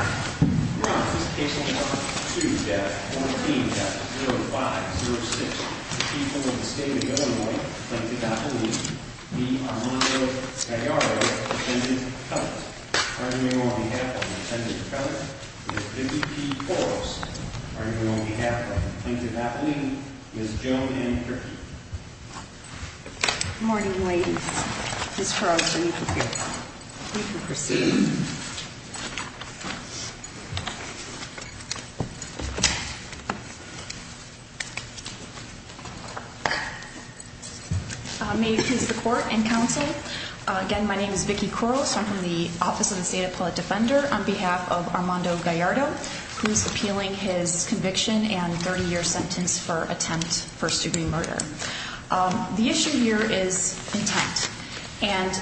Runs to death 4506 to happen on behalf of the force presented you can proceed. May it please the court and counsel, again my name is Vicky Coros, I'm from the office of the State Appellate Defender on behalf of Armando Gallardo who is appealing his conviction and 30 year sentence for attempt first degree murder. The issue here is intent and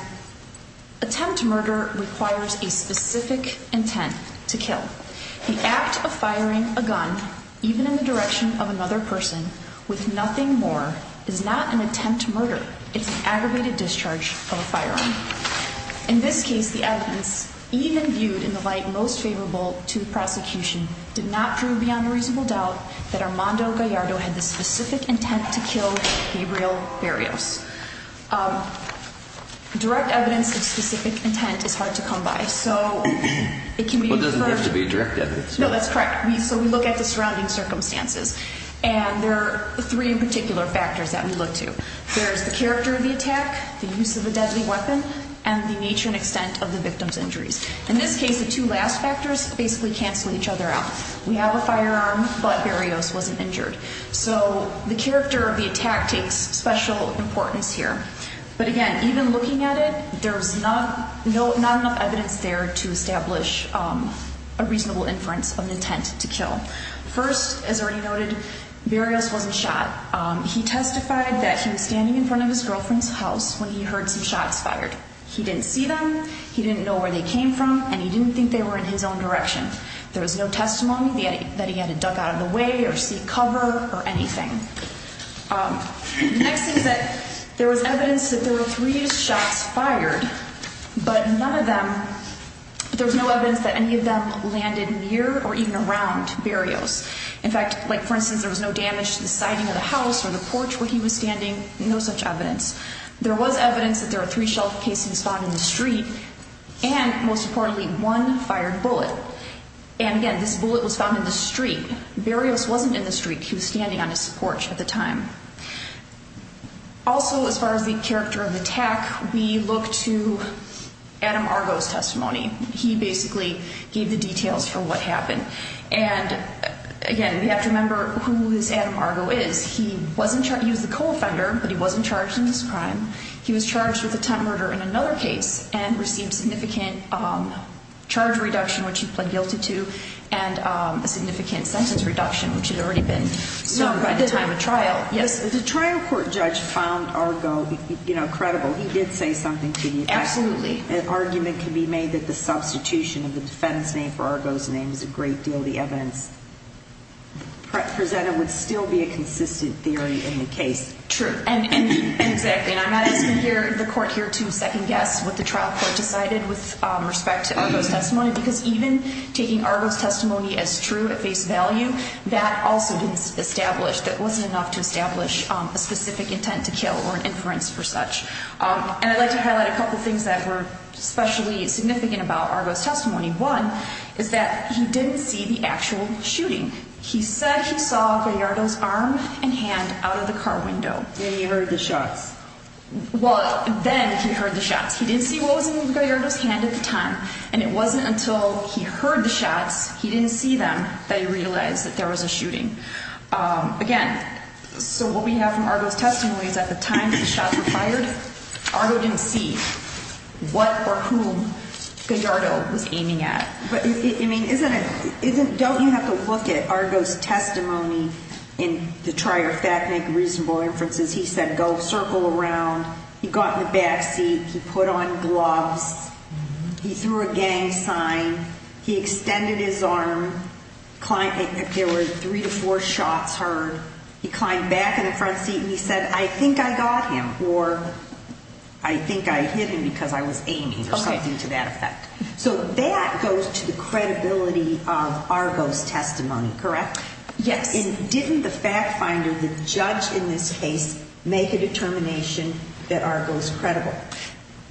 attempt murder requires a specific intent to kill. The act of firing a gun even in the direction of another person with nothing more is not an attempt murder, it's an aggravated discharge of a firearm. In this case the evidence even viewed in the light most favorable to the prosecution did not prove beyond a reasonable doubt that Armando Gallardo had the specific intent to kill Gabriel Barrios. Direct evidence of specific intent is hard to come by so it can be inferred to be direct evidence. No, that's correct. So we look at the surrounding circumstances and there are three particular factors that we look to. There's the character of the attack, the use of a deadly weapon, and the nature and extent of the victim's injuries. In this case the two last factors basically cancel each other out. We have a firearm but Barrios wasn't injured. So the character of the attack takes special importance here. But again, even looking at it, there's not enough evidence there to establish a reasonable inference of an intent to kill. First as already noted, Barrios wasn't shot. He testified that he was standing in front of his girlfriend's house when he heard some shots fired. He didn't see them, he didn't know where they came from, and he didn't think they were in his own direction. There was no testimony that he had to duck out of the way or seek cover or anything. Next is that there was evidence that there were three shots fired but none of them, there was no evidence that any of them landed near or even around Barrios. In fact, like for instance, there was no damage to the siding of the house or the porch where he was standing, no such evidence. There was evidence that there were three shell casings found in the street and most importantly, one fired bullet. And again, this bullet was found in the street. Barrios wasn't in the street, he was standing on his porch at the time. Also as far as the character of the attack, we look to Adam Argo's testimony. He basically gave the details for what happened and again, we have to remember who this Adam Argo is. He was the co-offender but he wasn't charged in this crime. He was charged with attempt murder in another case and received significant charge reduction which he pled guilty to and a significant sentence reduction which had already been served by the time of trial. Yes. The trial court judge found Argo credible. He did say something to the effect that an argument can be made that the substitution of the defendant's name for Argo's name is a great deal of the evidence presented would still be a consistent theory in the case. True. And exactly. And I'm not asking the court here to second guess what the trial court decided with respect to Argo's testimony because even taking Argo's testimony as true at face value, that also didn't establish, that wasn't enough to establish a specific intent to kill or an inference for such. And I'd like to highlight a couple things that were especially significant about Argo's testimony. One is that he didn't see the actual shooting. He said he saw Gallardo's arm and hand out of the car window. And he heard the shots. Well, then he heard the shots. He didn't see what was in Gallardo's hand at the time. And it wasn't until he heard the shots, he didn't see them, that he realized that there was a shooting. Again, so what we have from Argo's testimony is at the time the shots were fired, Argo didn't see what or whom Gallardo was aiming at. But, I mean, isn't it, don't you have to look at Argo's testimony in the trier fact make reasonable inferences. He said, go circle around, he got in the back seat, he put on gloves, he threw a gang sign, he extended his arm, there were three to four shots heard. He climbed back in the front seat and he said, I think I got him or I think I hit him because I was aiming or something to that effect. So that goes to the credibility of Argo's testimony, correct? Yes. And didn't the fact finder, the judge in this case, make a determination that Argo's credible?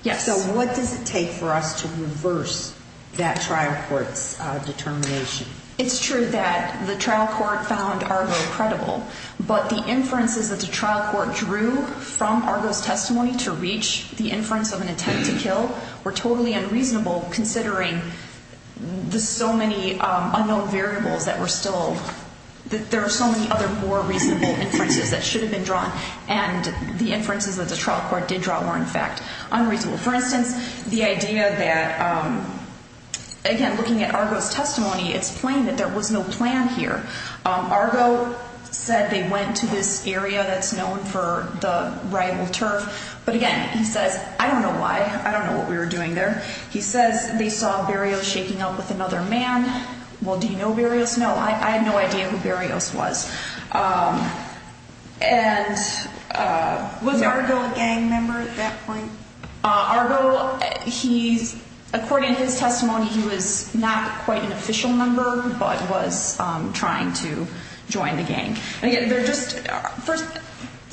Yes. So what does it take for us to reverse that trial court's determination? It's true that the trial court found Argo credible, but the inferences that the trial court drew from Argo's testimony to reach the inference of an attempt to kill were totally unreasonable considering the so many unknown variables that were still, that there are so many other more reasonable inferences that should have been drawn and the inferences that the trial court did draw were, in fact, unreasonable. For instance, the idea that, again, looking at Argo's testimony, it's plain that there was no plan here. Argo said they went to this area that's known for the rival turf, but again, he says, I don't know why. I don't know what we were doing there. He says they saw Berrios shaking up with another man. Well, do you know Berrios? No, I had no idea who Berrios was. And was Argo a gang member at that point? Argo, he's, according to his testimony, he was not quite an official member, but was trying to join the gang. And again, they're just, first,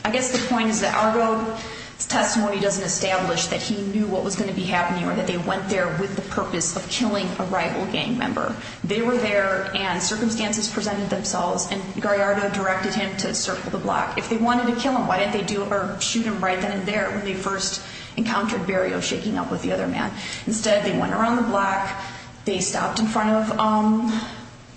I guess the point is that Argo's testimony doesn't establish that he knew what was going to be happening or that they went there with the purpose of killing a rival gang member. They were there and circumstances presented themselves and Gallardo directed him to circle the block. If they wanted to kill him, why didn't they shoot him right then and there when they first encountered Berrios shaking up with the other man? Instead, they went around the block, they stopped in front of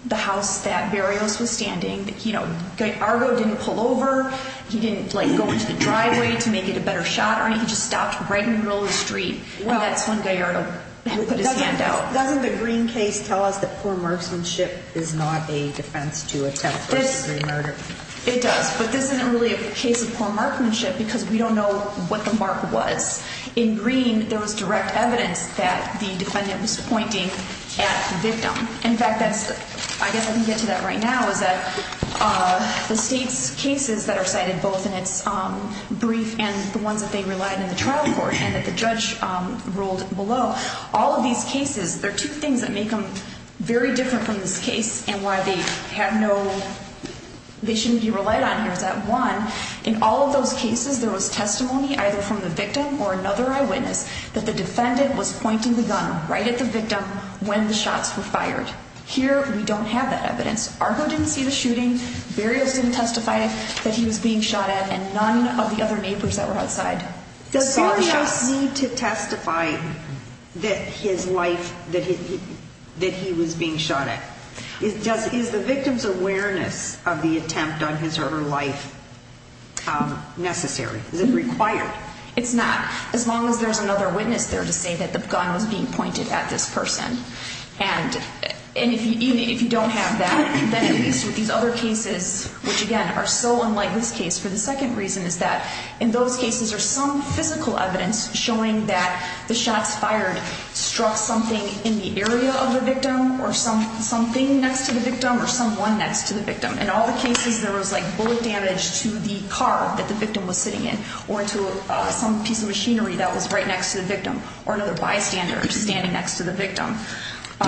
the house that Berrios was standing. You know, Argo didn't pull over, he didn't, like, go into the driveway to make it a better shot or anything. He just stopped right in the middle of the street and that's when Gallardo put his hand out. Doesn't the Green case tell us that poor marksmanship is not a defense to attempt first degree murder? It does, but this isn't really a case of poor marksmanship because we don't know what the mark was. In Green, there was direct evidence that the defendant was pointing at the victim. In fact, that's, I guess I can get to that right now, is that the state's cases that are cited both in its brief and the ones that they relied on in the trial court and that the judge ruled below, all of these cases, there are two things that make them very different from this case and why they have no, they shouldn't be relied on here is that one, in all of those cases, there was testimony either from the victim or another eyewitness that the defendant was pointing the gun right at the victim when the shots were fired. Here we don't have that evidence. Argo didn't see the shooting, Barrios didn't testify that he was being shot at, and none of the other neighbors that were outside saw the shots. Does Barrios need to testify that his life, that he was being shot at? Is the victim's awareness of the attempt on his or her life necessary, is it required? It's not. As long as there's another witness there to say that the gun was being pointed at this person. And even if you don't have that, then at least with these other cases, which again, are so unlike this case for the second reason is that in those cases, there's some physical evidence showing that the shots fired struck something in the area of the victim or something next to the victim or someone next to the victim. In all the cases, there was like bullet damage to the car that the victim was sitting in or to some piece of machinery that was right next to the victim or another bystander standing next to the victim.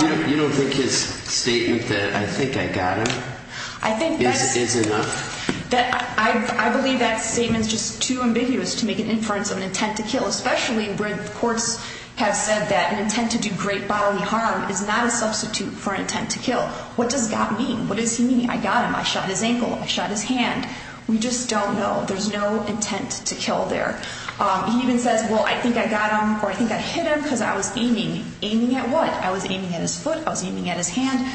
You don't think his statement that, I think I got him, is enough? I believe that statement is just too ambiguous to make an inference of an intent to kill, especially where the courts have said that an intent to do great bodily harm is not a substitute for an intent to kill. What does got mean? What does he mean? I got him. I shot his ankle. I shot his hand. We just don't know. There's no intent to kill there. He even says, well, I think I got him or I think I hit him because I was aiming. Aiming at what? I was aiming at his foot. I was aiming at his hand.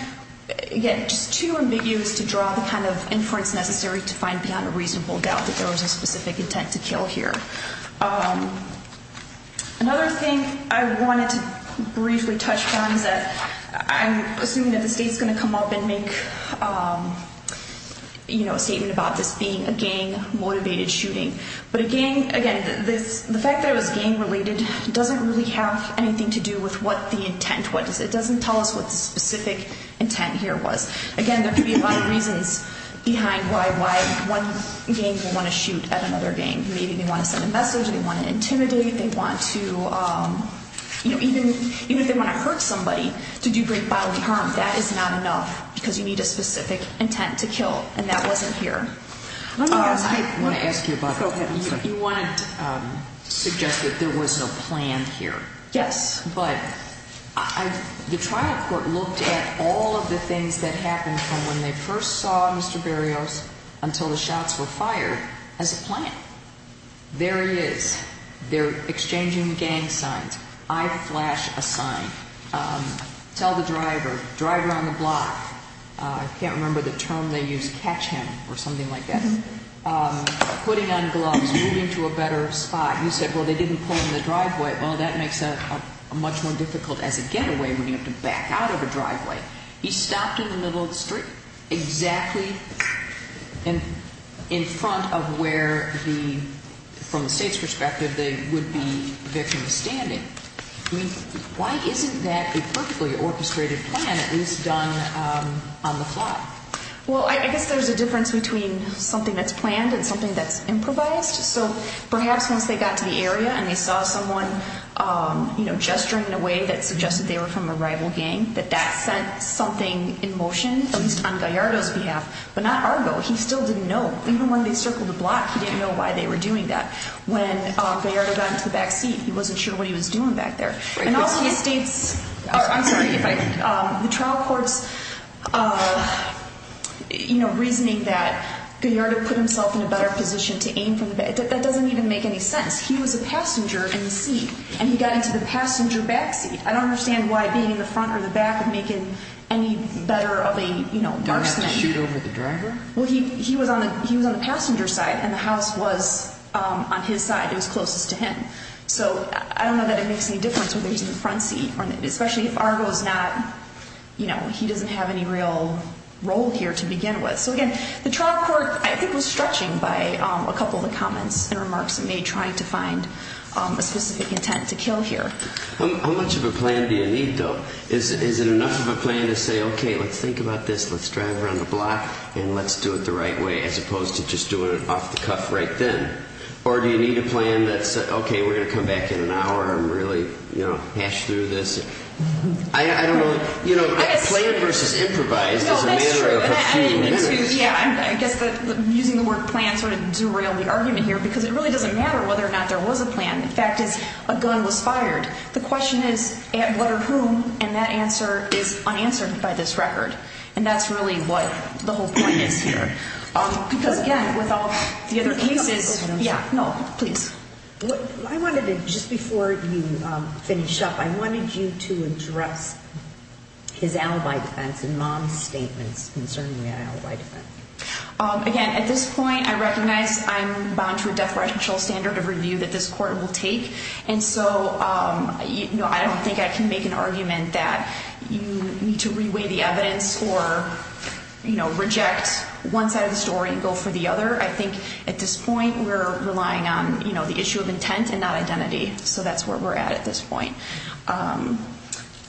Again, just too ambiguous to draw the kind of inference necessary to find beyond a reasonable doubt that there was a specific intent to kill here. Another thing I wanted to briefly touch on is that I'm assuming that the state's going to come up and make a statement about this being a gang-motivated shooting. But a gang, again, the fact that it was gang-related doesn't really have anything to do with what the intent was. It doesn't tell us what the specific intent here was. Again, there could be a lot of reasons behind why one gang would want to shoot at another gang. Maybe they want to send a message. They want to intimidate. They want to, even if they want to hurt somebody, to do great bodily harm, that is not enough. Because you need a specific intent to kill and that wasn't here. I want to ask you about, you wanted to suggest that there was no plan here. Yes. But the trial court looked at all of the things that happened from when they first saw Mr. Berrios until the shots were fired as a plan. There he is. They're exchanging gang signs. I flash a sign. Tell the driver. Driver on the block. I can't remember the term they used, catch him or something like that. Putting on gloves, moving to a better spot. You said, well, they didn't pull him in the driveway. Well, that makes it much more difficult as a getaway when you have to back out of a driveway. He stopped in the middle of the street, exactly in front of where the, from the state's perspective, they would be victims standing. I mean, why isn't that a perfectly orchestrated plan, at least done on the fly? Well, I guess there's a difference between something that's planned and something that's improvised. So perhaps once they got to the area and they saw someone, you know, gesturing in a way that suggested they were from a rival gang, that that sent something in motion, at least on Gallardo's behalf, but not Argo. He still didn't know. Even when they circled the block, he didn't know why they were doing that. When Gallardo got into the back seat, he wasn't sure what he was doing back there. And also the state's, I'm sorry if I, the trial court's, you know, reasoning that Gallardo put himself in a better position to aim from the back, that doesn't even make any sense. He was a passenger in the seat and he got into the passenger back seat. I don't understand why being in the front or the back would make it any better of a, you know, Don't have to shoot over the driver? Well, he was on the passenger side and the house was on his side. It was closest to him. So I don't know that it makes any difference whether he's in the front seat. Especially if Argo's not, you know, he doesn't have any real role here to begin with. So again, the trial court, I think, was stretching by a couple of the comments and remarks it made trying to find a specific intent to kill here. How much of a plan do you need, though? Is it enough of a plan to say, okay, let's think about this, let's drive around the block and let's do it the right way as opposed to just doing it off the cuff right then? Or do you need a plan that's, okay, we're going to come back in an hour and really, you know, hash through this? I don't know, you know, plan versus improvise is a matter of a few minutes. Yeah, I guess using the word plan sort of derailed the argument here because it really doesn't matter whether or not there was a plan. The fact is, a gun was fired. The question is, what or whom? And that answer is unanswered by this record. And that's really what the whole point is here. Because again, with all the other cases, yeah. No, please. I wanted to, just before you finish up, I wanted you to address his alibi defense and mom's statements concerning the alibi defense. Again, at this point, I recognize I'm bound to a death row actual standard of review that this court will take, and so, you know, I don't think I can make an argument that you need to reweigh the evidence or, you know, reject one side of the story and go for the other. I think at this point, we're relying on, you know, the issue of intent and not identity. So that's where we're at at this point.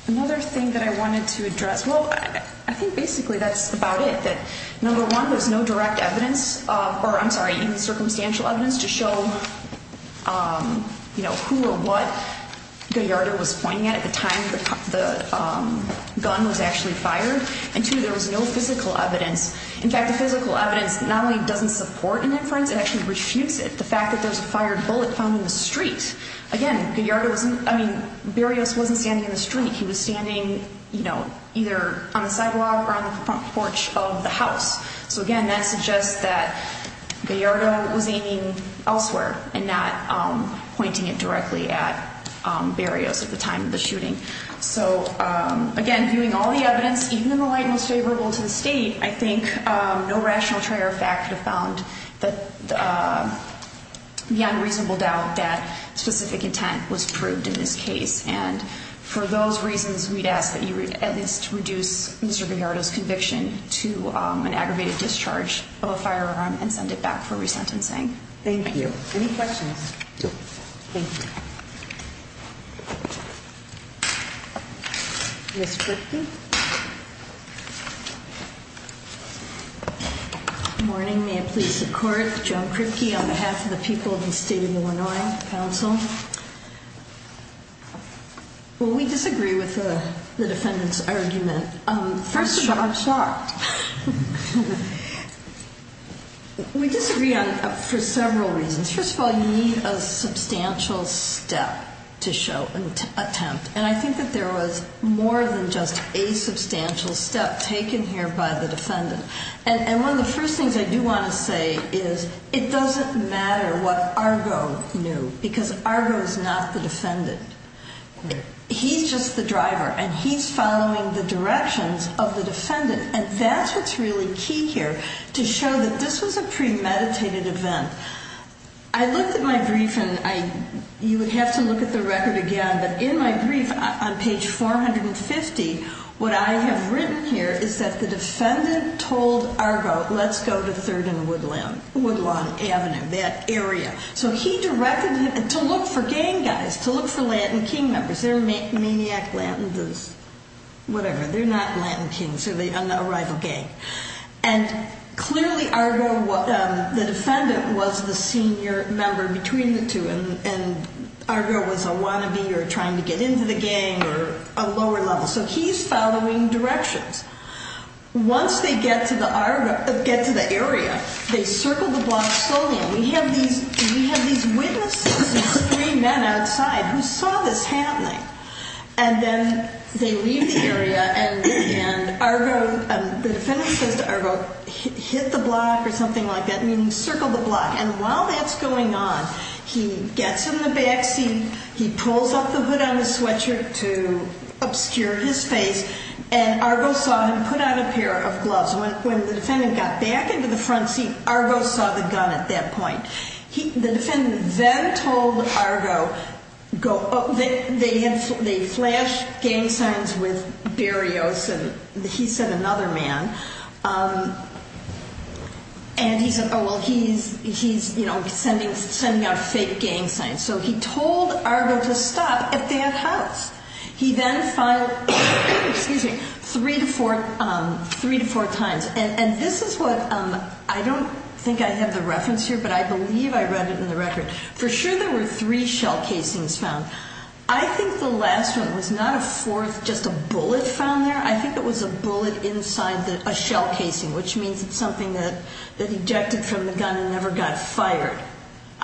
Another thing that I wanted to address, well, I think basically that's about it. Number one, there's no direct evidence, or I'm sorry, even circumstantial evidence to show, you know, who or what Gallardo was pointing at at the time the gun was actually fired. And two, there was no physical evidence. In fact, the physical evidence not only doesn't support an inference, it actually refutes it. The fact that there's a fired bullet found in the street. Again, Gallardo wasn't, I mean, Berrios wasn't standing in the street. He was standing, you know, either on the sidewalk or on the front porch of the house. So again, that suggests that Gallardo was aiming elsewhere and not pointing it directly at Berrios at the time of the shooting. So, again, viewing all the evidence, even in the light most favorable to the state, I think no rational trier of fact could have found the unreasonable doubt that specific intent was proved in this case. And for those reasons, we'd ask that you at least reduce Mr. Gallardo's conviction to an aggravated discharge of a firearm and send it back for resentencing. Thank you. Any questions? No. Thank you. Ms. Kripke? Good morning. May it please the Court. Joan Kripke on behalf of the people of the State of Illinois Council. Well, we disagree with the defendant's argument. First of all, I'm shocked. We disagree for several reasons. First of all, you need a substantial step to show an attempt. And I think that there was more than just a substantial step taken here by the defendant. And one of the first things I do want to say is it doesn't matter what Argo knew, because Argo is not the defendant. He's just the driver, and he's following the directions of the defendant. And that's what's really key here, to show that this was a premeditated event. I looked at my brief, and you would have to look at the record again, but in my brief, on page 450, what I have written here is that the defendant told Argo, let's go to 3rd and Woodlawn Avenue, that area. So he directed him to look for gang guys, to look for Lantan King members. They're maniac Lantans, whatever. They're not Lantan Kings. They're a rival gang. And clearly, Argo, the defendant, was the senior member between the two, and Argo was a wannabe, or trying to get into the gang, or a lower level. So he's following directions. Once they get to the area, they circle the block slowly. We have these witnesses, these three men outside, who saw this happening. And then they leave the area, and Argo, the defendant says to Argo, hit the block, or something like that, meaning circle the block. And while that's going on, he gets in the back seat, he pulls up the hood on his sweatshirt to obscure his face, When the defendant got back into the front seat, Argo saw the gun at that point. The defendant then told Argo, they flashed gang signs with Berrios, and he said, another man. And he said, oh well, he's sending out fake gang signs. So he told Argo to stop at that house. He then filed, excuse me, three to four times. And this is what, I don't think I have the reference here, but I believe I read it in the record. For sure there were three shell casings found. I think the last one was not a fourth, just a bullet found there. I think it was a bullet inside a shell casing, which means it's something that ejected from the gun and never got fired.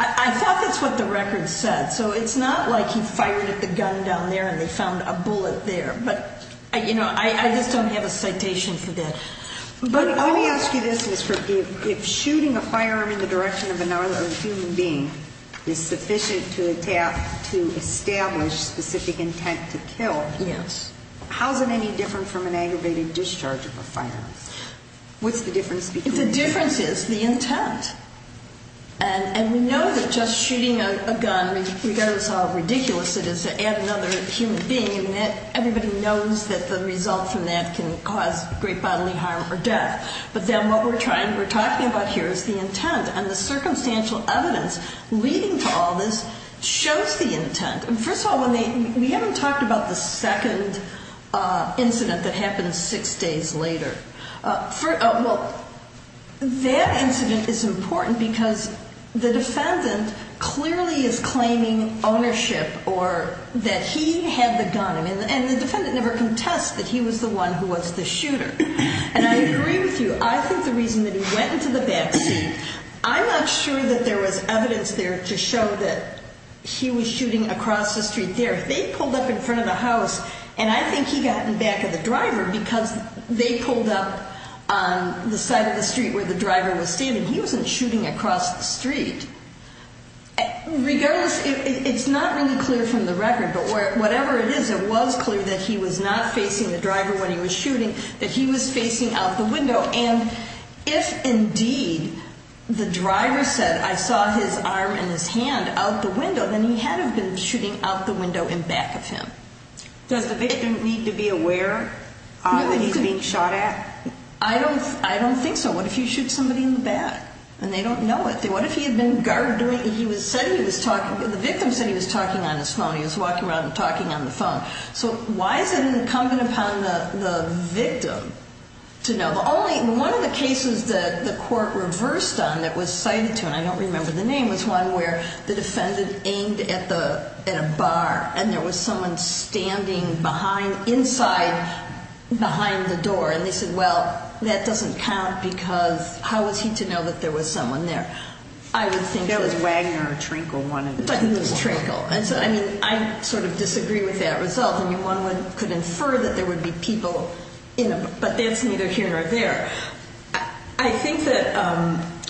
I thought that's what the record said. So it's not like he fired at the gun down there and they found a bullet there. I just don't have a citation for that. Let me ask you this, if shooting a firearm in the direction of another human being is sufficient to establish specific intent to kill, how is it any different from an aggravated discharge of a firearm? What's the difference? The difference is the intent. And we know that just shooting a gun, regardless of how ridiculous it is, to add another human being, everybody knows that the result from that can cause great bodily harm or death. But then what we're talking about here is the intent. And the circumstantial evidence leading to all this shows the intent. And first of all, we haven't talked about the second incident that happened six days later. Well, that incident is important because the defendant clearly is claiming ownership or that he had the gun. And the defendant never contests that he was the one who was the shooter. And I agree with you. I think the reason that he went into the backseat, I'm not sure that there was evidence there to show that he was shooting across the street there. They pulled up in front of the house and I think he got in back of the driver because they pulled up on the side of the street where the driver was standing. He wasn't shooting across the street. Regardless, it's not really clear from the record. But whatever it is, it was clear that he was not facing the driver when he was shooting, that he was facing out the window. And if indeed the driver said, I saw his arm and his hand out the window, then he had to have been shooting out the window in back of him. Does the victim need to be aware that he's being shot at? I don't think so. What if you shoot somebody in the back and they don't know it? What if he had been guarded? The victim said he was talking on his phone. He was walking around and talking on the phone. So why is it incumbent upon the victim to know? One of the cases that the court reversed on that was cited to, and I don't remember the name, was one where the defendant aimed at a bar and there was someone standing inside behind the door. And they said, well, that doesn't count because how was he to know that there was someone there? That was Wagner or Trinkle, one of the two. It was Trinkle. I mean, I sort of disagree with that result. I mean, one could infer that there would be people, but that's neither here nor there. I think that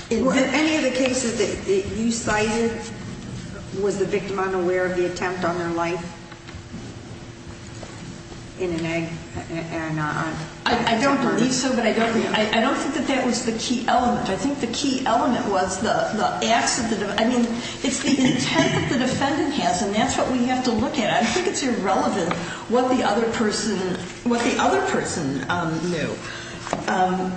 in any of the cases that you cited, was the victim unaware of the attempt on their life in an egg? I don't believe so, but I don't think that that was the key element. I think the key element was the acts of the defendant. I mean, it's the intent that the defendant has, and that's what we have to look at. I think it's irrelevant what the other person knew.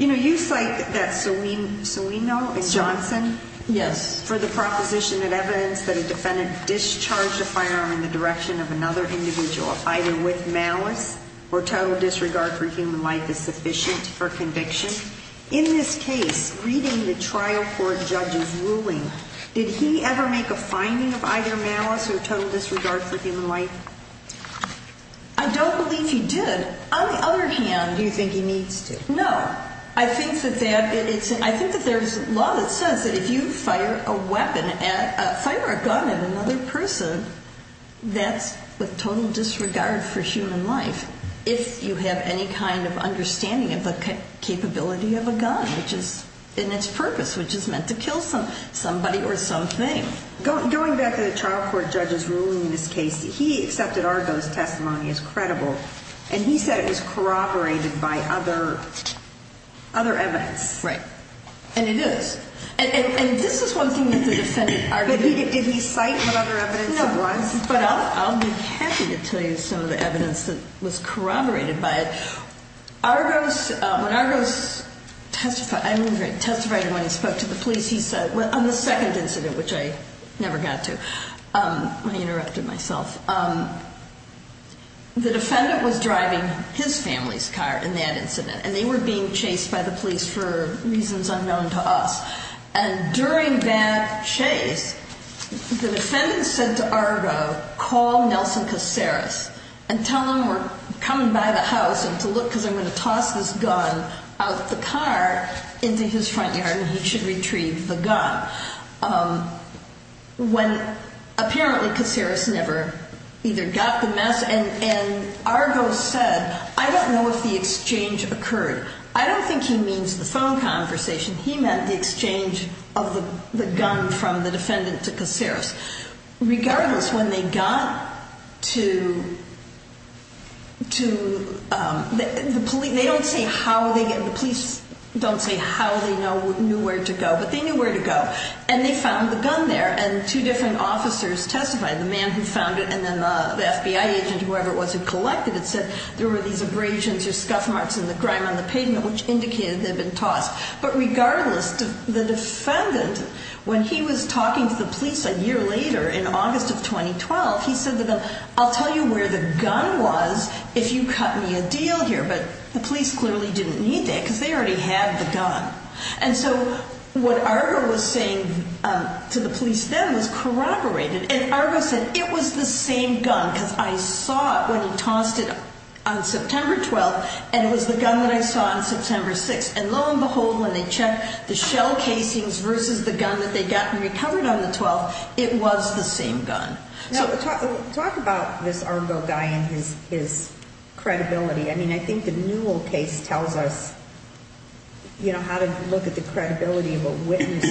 You know, you cite that Sawino, Johnson? Yes. For the proposition that evidence that a defendant discharged a firearm in the direction of another individual either with malice or total disregard for human life is sufficient for conviction. In this case, reading the trial court judge's ruling, did he ever make a finding of either malice or total disregard for human life? I don't believe he did. On the other hand, do you think he needs to? No. I think that there's law that says that if you fire a weapon, fire a gun at another person, that's with total disregard for human life, if you have any kind of understanding of the capability of a gun, and its purpose, which is meant to kill somebody or something. Going back to the trial court judge's ruling in this case, he accepted Argo's testimony as credible, and he said it was corroborated by other evidence. Right. And it is. And this is one thing that the defendant argued. Did he cite what other evidence it was? No. But I'll be happy to tell you some of the evidence that was corroborated by it. When Argo testified, when he spoke to the police, he said, on the second incident, which I never got to, I interrupted myself, the defendant was driving his family's car in that incident, and they were being chased by the police for reasons unknown to us. And during that chase, the defendant said to Argo, call Nelson Caceres and tell him we're coming by the house and to look because I'm going to toss this gun out the car into his front yard and he should retrieve the gun. When, apparently, Caceres never either got the message, and Argo said, I don't know if the exchange occurred. I don't think he means the phone conversation. He meant the exchange of the gun from the defendant to Caceres. Regardless, when they got to the police, they don't say how they, the police don't say how they knew where to go, but they knew where to go, and they found the gun there. And two different officers testified, the man who found it and then the FBI agent, whoever it was who collected it, said there were these abrasions or scuff marks in the grime on the pavement which indicated they'd been tossed. But regardless, the defendant, when he was talking to the police a year later in August of 2012, he said to them, I'll tell you where the gun was if you cut me a deal here. But the police clearly didn't need that because they already had the gun. And so what Argo was saying to the police then was corroborated. And Argo said, it was the same gun because I saw it when he tossed it on September 12th, and it was the gun that I saw on September 6th. And lo and behold, when they checked the shell casings versus the gun that they'd gotten recovered on the 12th, it was the same gun. Talk about this Argo guy and his credibility. I mean, I think the Newell case tells us how to look at the credibility of a witness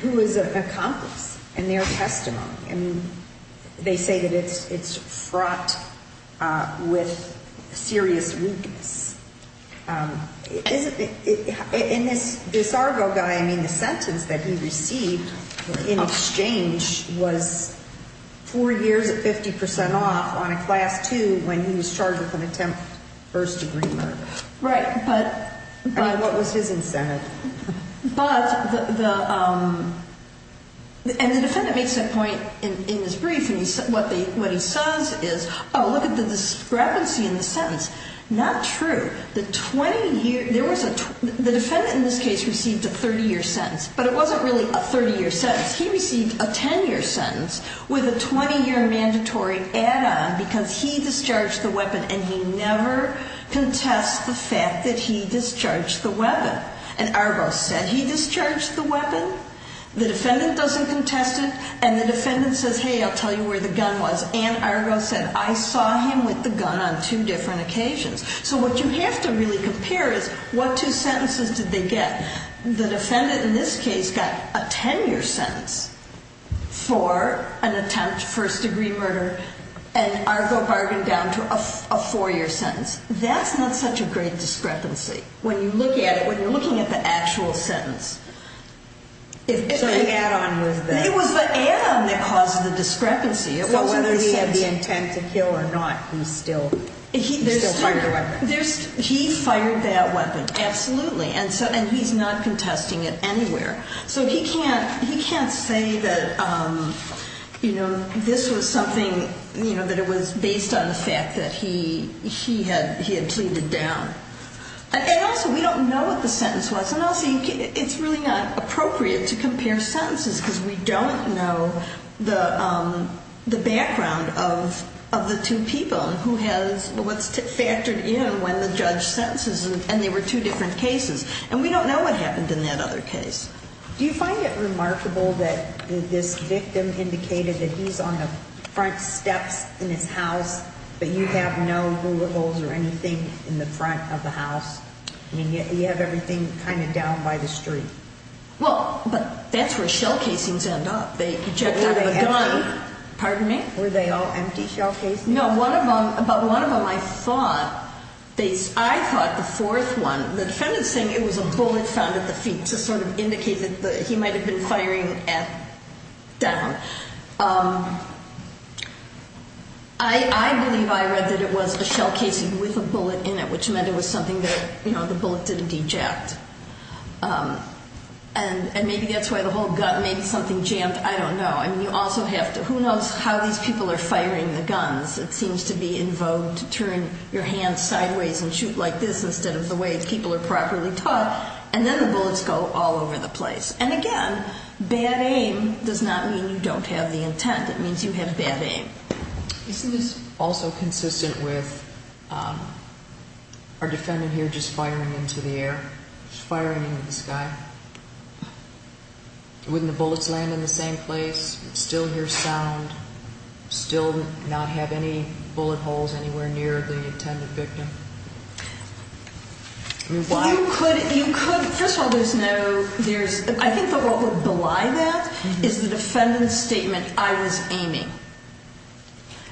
who is an accomplice in their testimony. And they say that it's fraught with serious weakness. And this Argo guy, I mean, the sentence that he received in exchange was four years at 50% off on a class two when he was charged with an attempt first degree murder. Right, but- I mean, what was his incentive? But the, and the defendant makes that point in his brief, and what he says is, oh, look at the discrepancy in the sentence. Not true. The 20 year, there was a, the defendant in this case received a 30 year sentence. But it wasn't really a 30 year sentence. He received a 10 year sentence with a 20 year mandatory add-on because he discharged the weapon. And he never contests the fact that he discharged the weapon. And Argo said he discharged the weapon. The defendant doesn't contest it. And the defendant says, hey, I'll tell you where the gun was. And Argo said, I saw him with the gun on two different occasions. So what you have to really compare is, what two sentences did they get? The defendant in this case got a 10 year sentence for an attempt first degree murder. And Argo bargained down to a four year sentence. That's not such a great discrepancy. When you look at it, when you're looking at the actual sentence. So the add-on was the- It was the add-on that caused the discrepancy. So whether he had the intent to kill or not, he still fired the weapon. He fired that weapon, absolutely. And he's not contesting it anywhere. So he can't say that this was something, that it was based on the fact that he had pleaded down. And also, we don't know what the sentence was. And also, it's really not appropriate to compare sentences because we don't know the background of the two people, what's factored in when the judge sentences them. And they were two different cases. And we don't know what happened in that other case. Do you find it remarkable that this victim indicated that he's on the front steps in his house, but you have no rubicles or anything in the front of the house? I mean, you have everything kind of down by the street. Well, but that's where shell casings end up. They eject out of a gun. Pardon me? Were they all empty shell casings? No, but one of them I thought, I thought the fourth one, the defendant's saying it was a bullet found at the feet to sort of indicate that he might have been firing at, down. I believe I read that it was a shell casing with a bullet in it, which meant it was something that, you know, the bullet didn't eject. And maybe that's why the whole gun, maybe something jammed, I don't know. who knows how these people are firing the guns. It seems to be in vogue to turn your hand sideways and shoot like this instead of the way people are properly taught. And then the bullets go all over the place. And again, bad aim does not mean you don't have the intent. It means you have bad aim. Isn't this also consistent with our defendant here just firing into the air, just firing into the sky? Wouldn't the bullets land in the same place, still hear sound, still not have any bullet holes anywhere near the intended victim? You could, you could. First of all, there's no, there's, I think the role to belie that is the defendant's statement, I was aiming.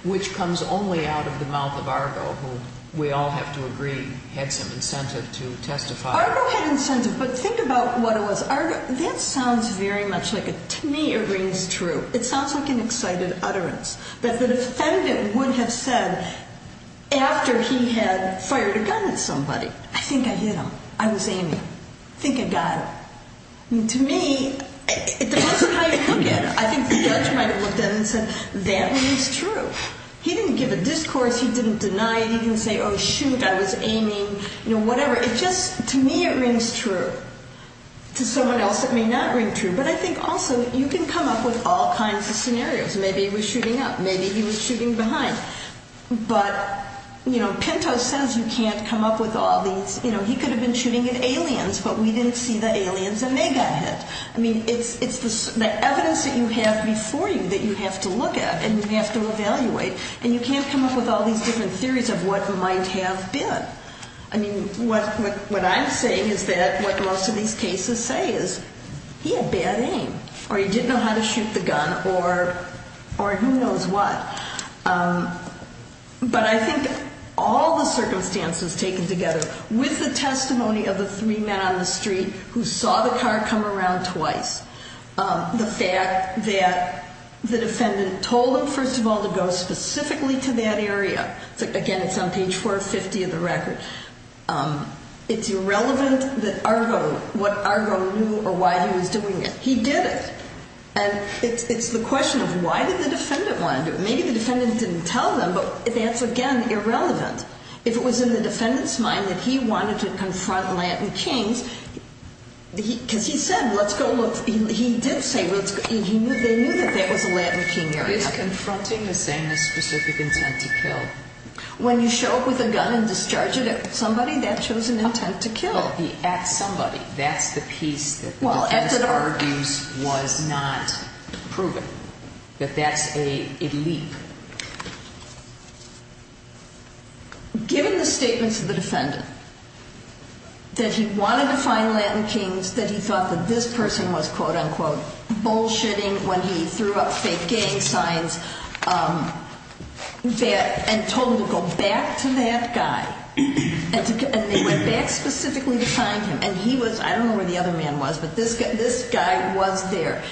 Which comes only out of the mouth of Argo, who we all have to agree had some incentive to testify. Argo had incentive, but think about what it was. Argo, that sounds very much like a, to me it rings true. It sounds like an excited utterance. But the defendant would have said, after he had fired a gun at somebody, I think I hit him, I was aiming, think I got him. To me, it depends on how you look at it. I think the judge might have looked at it and said, that rings true. He didn't give a discourse, he didn't deny it, he didn't say, oh shoot, I was aiming, you know, whatever. It just, to me it rings true. To someone else it may not ring true. But I think also, you can come up with all kinds of scenarios. Maybe he was shooting up, maybe he was shooting behind. But, you know, Pinto says you can't come up with all these, you know, he could have been shooting at aliens, but we didn't see the aliens and they got hit. I mean, it's the evidence that you have before you that you have to look at and you have to evaluate. And you can't come up with all these different theories of what might have been. I mean, what I'm saying is that, what most of these cases say is, he had bad aim. Or he didn't know how to shoot the gun, or who knows what. But I think all the circumstances taken together, with the testimony of the three men on the street who saw the car come around twice, the fact that the defendant told him, first of all, to go specifically to that area. Again, it's on page 450 of the record. It's irrelevant what Argo knew or why he was doing it. He did it. And it's the question of why did the defendant want to do it. Maybe the defendant didn't tell them, but that's, again, irrelevant. If it was in the defendant's mind that he wanted to confront Latin kings, because he said, let's go look, he did say, they knew that that was a Latin king area. It's confronting the same as specific intent to kill. When you show up with a gun and discharge it at somebody, that shows an intent to kill. At somebody. That's the piece that the defense argues was not proven. That that's a leap. Given the statements of the defendant, that he wanted to find Latin kings, that he thought that this person was, quote, unquote, bullshitting when he threw up fake gang signs, and told him to go back to that guy. And they went back specifically to find him. And he was, I don't know where the other man was, but this guy was there.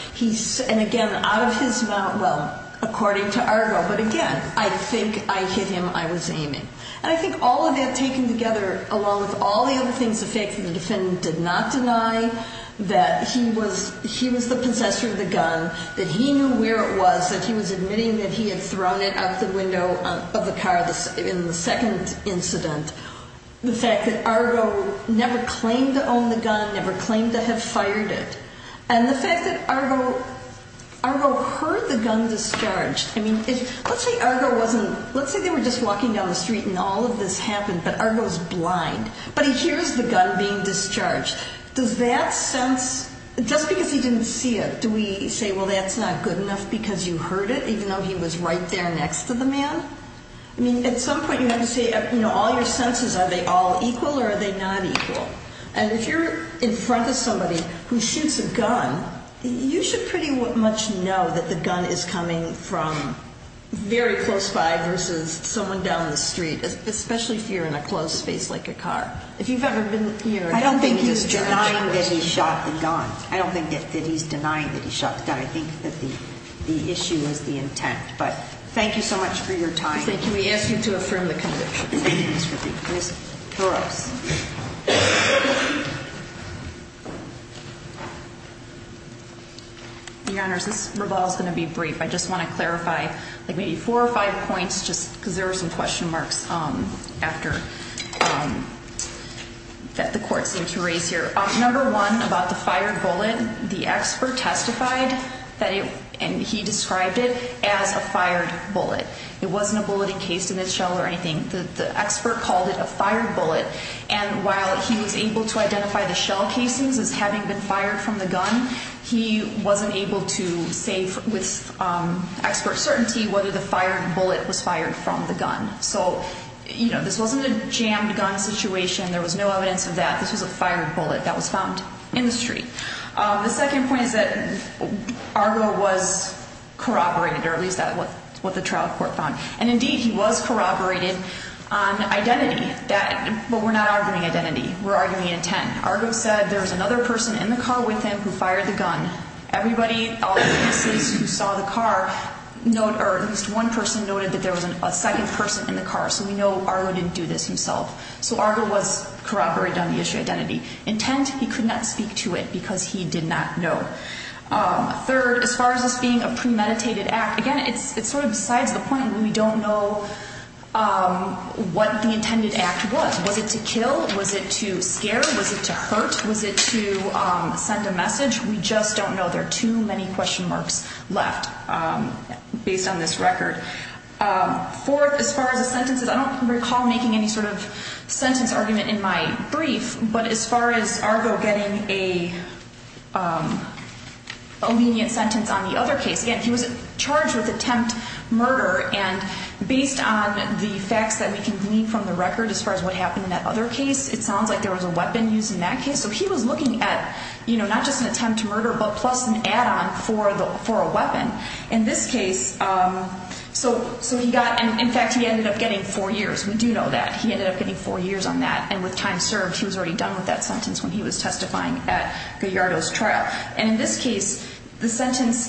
And again, out of his mouth, well, according to Argo. But again, I think I hit him. I was aiming. And I think all of that taken together, along with all the other things, the fact that the defendant did not deny that he was the possessor of the gun, that he knew where it was, that he was admitting that he had thrown it out the window of the car in the second incident. The fact that Argo never claimed to own the gun, never claimed to have fired it. And the fact that Argo heard the gun discharged. Let's say Argo wasn't, let's say they were just walking down the street and all of this happened, but Argo's blind. But he hears the gun being discharged. Does that sense, just because he didn't see it, do we say, well, that's not good enough because you heard it, even though he was right there next to the man? I mean, at some point you have to say, you know, all your senses, are they all equal or are they not equal? And if you're in front of somebody who shoots a gun, you should pretty much know that the gun is coming from very close by versus someone down the street, especially if you're in a closed space like a car. If you've ever been, you know. I don't think he's denying that he shot the gun. I don't think that he's denying that he shot the gun. I think that the issue is the intent. But thank you so much for your time. Thank you. Can we ask you to affirm the conviction? Ms. Toros. Your Honor, this revolves going to be brief. I just want to clarify, like maybe four or five points, just because there were some question marks after, that the court seemed to raise here. Number one, about the fired bullet, the expert testified that it, and he described it, as a fired bullet. It wasn't a bullet encased in its shell or anything. The expert called it a fired bullet. And while he was able to identify the shell casings as having been fired from the gun, he wasn't able to say with expert certainty whether the fired bullet was fired from the gun. So, you know, this wasn't a jammed gun situation. There was no evidence of that. This was a fired bullet that was found in the street. The second point is that Argo was corroborated, or at least that's what the trial court found. And indeed, he was corroborated on identity. But we're not arguing identity. We're arguing intent. Argo said there was another person in the car with him who fired the gun. Everybody, all witnesses who saw the car, at least one person noted that there was a second person in the car. So we know Argo didn't do this himself. So Argo was corroborated on the issue of identity. Intent, he could not speak to it because he did not know. Third, as far as this being a premeditated act, again, it's sort of besides the point. We don't know what the intended act was. Was it to kill? Was it to scare? Was it to hurt? Was it to send a message? We just don't know. There are too many question marks left based on this record. Fourth, as far as the sentences, I don't recall making any sort of sentence argument in my brief. But as far as Argo getting a lenient sentence on the other case, again, he was charged with attempt murder. And based on the facts that we can glean from the record as far as what happened in that other case, it sounds like there was a weapon used in that case. So he was looking at, you know, not just an attempt to murder, but plus an add-on for a weapon. In this case, so he got, in fact, he ended up getting four years. We do know that. He ended up getting four years on that. And with time served, he was already done with that sentence when he was testifying at Gallardo's trial. And in this case, the sentence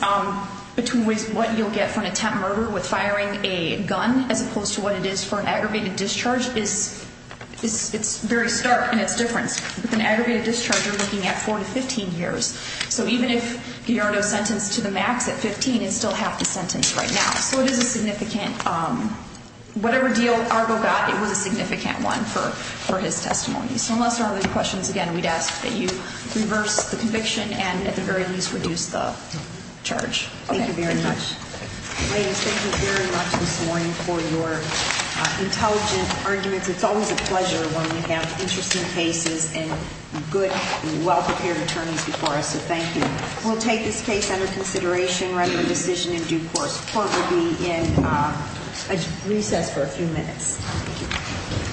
between what you'll get for an attempt murder with firing a gun as opposed to what it is for an aggravated discharge, it's very stark in its difference. With an aggregated discharge, you're looking at four to 15 years. So even if Gallardo sentenced to the max at 15, it's still half the sentence right now. So it is a significant, whatever deal Argo got, it was a significant one for his testimony. So unless there are other questions, again, we'd ask that you reverse the conviction and at the very least reduce the charge. Thank you very much. Ladies, thank you very much this morning for your intelligent arguments. It's always a pleasure when we have interesting cases and good, well-prepared attorneys before us. So thank you. We'll take this case under consideration, record a decision in due course. Court will be in recess for a few minutes.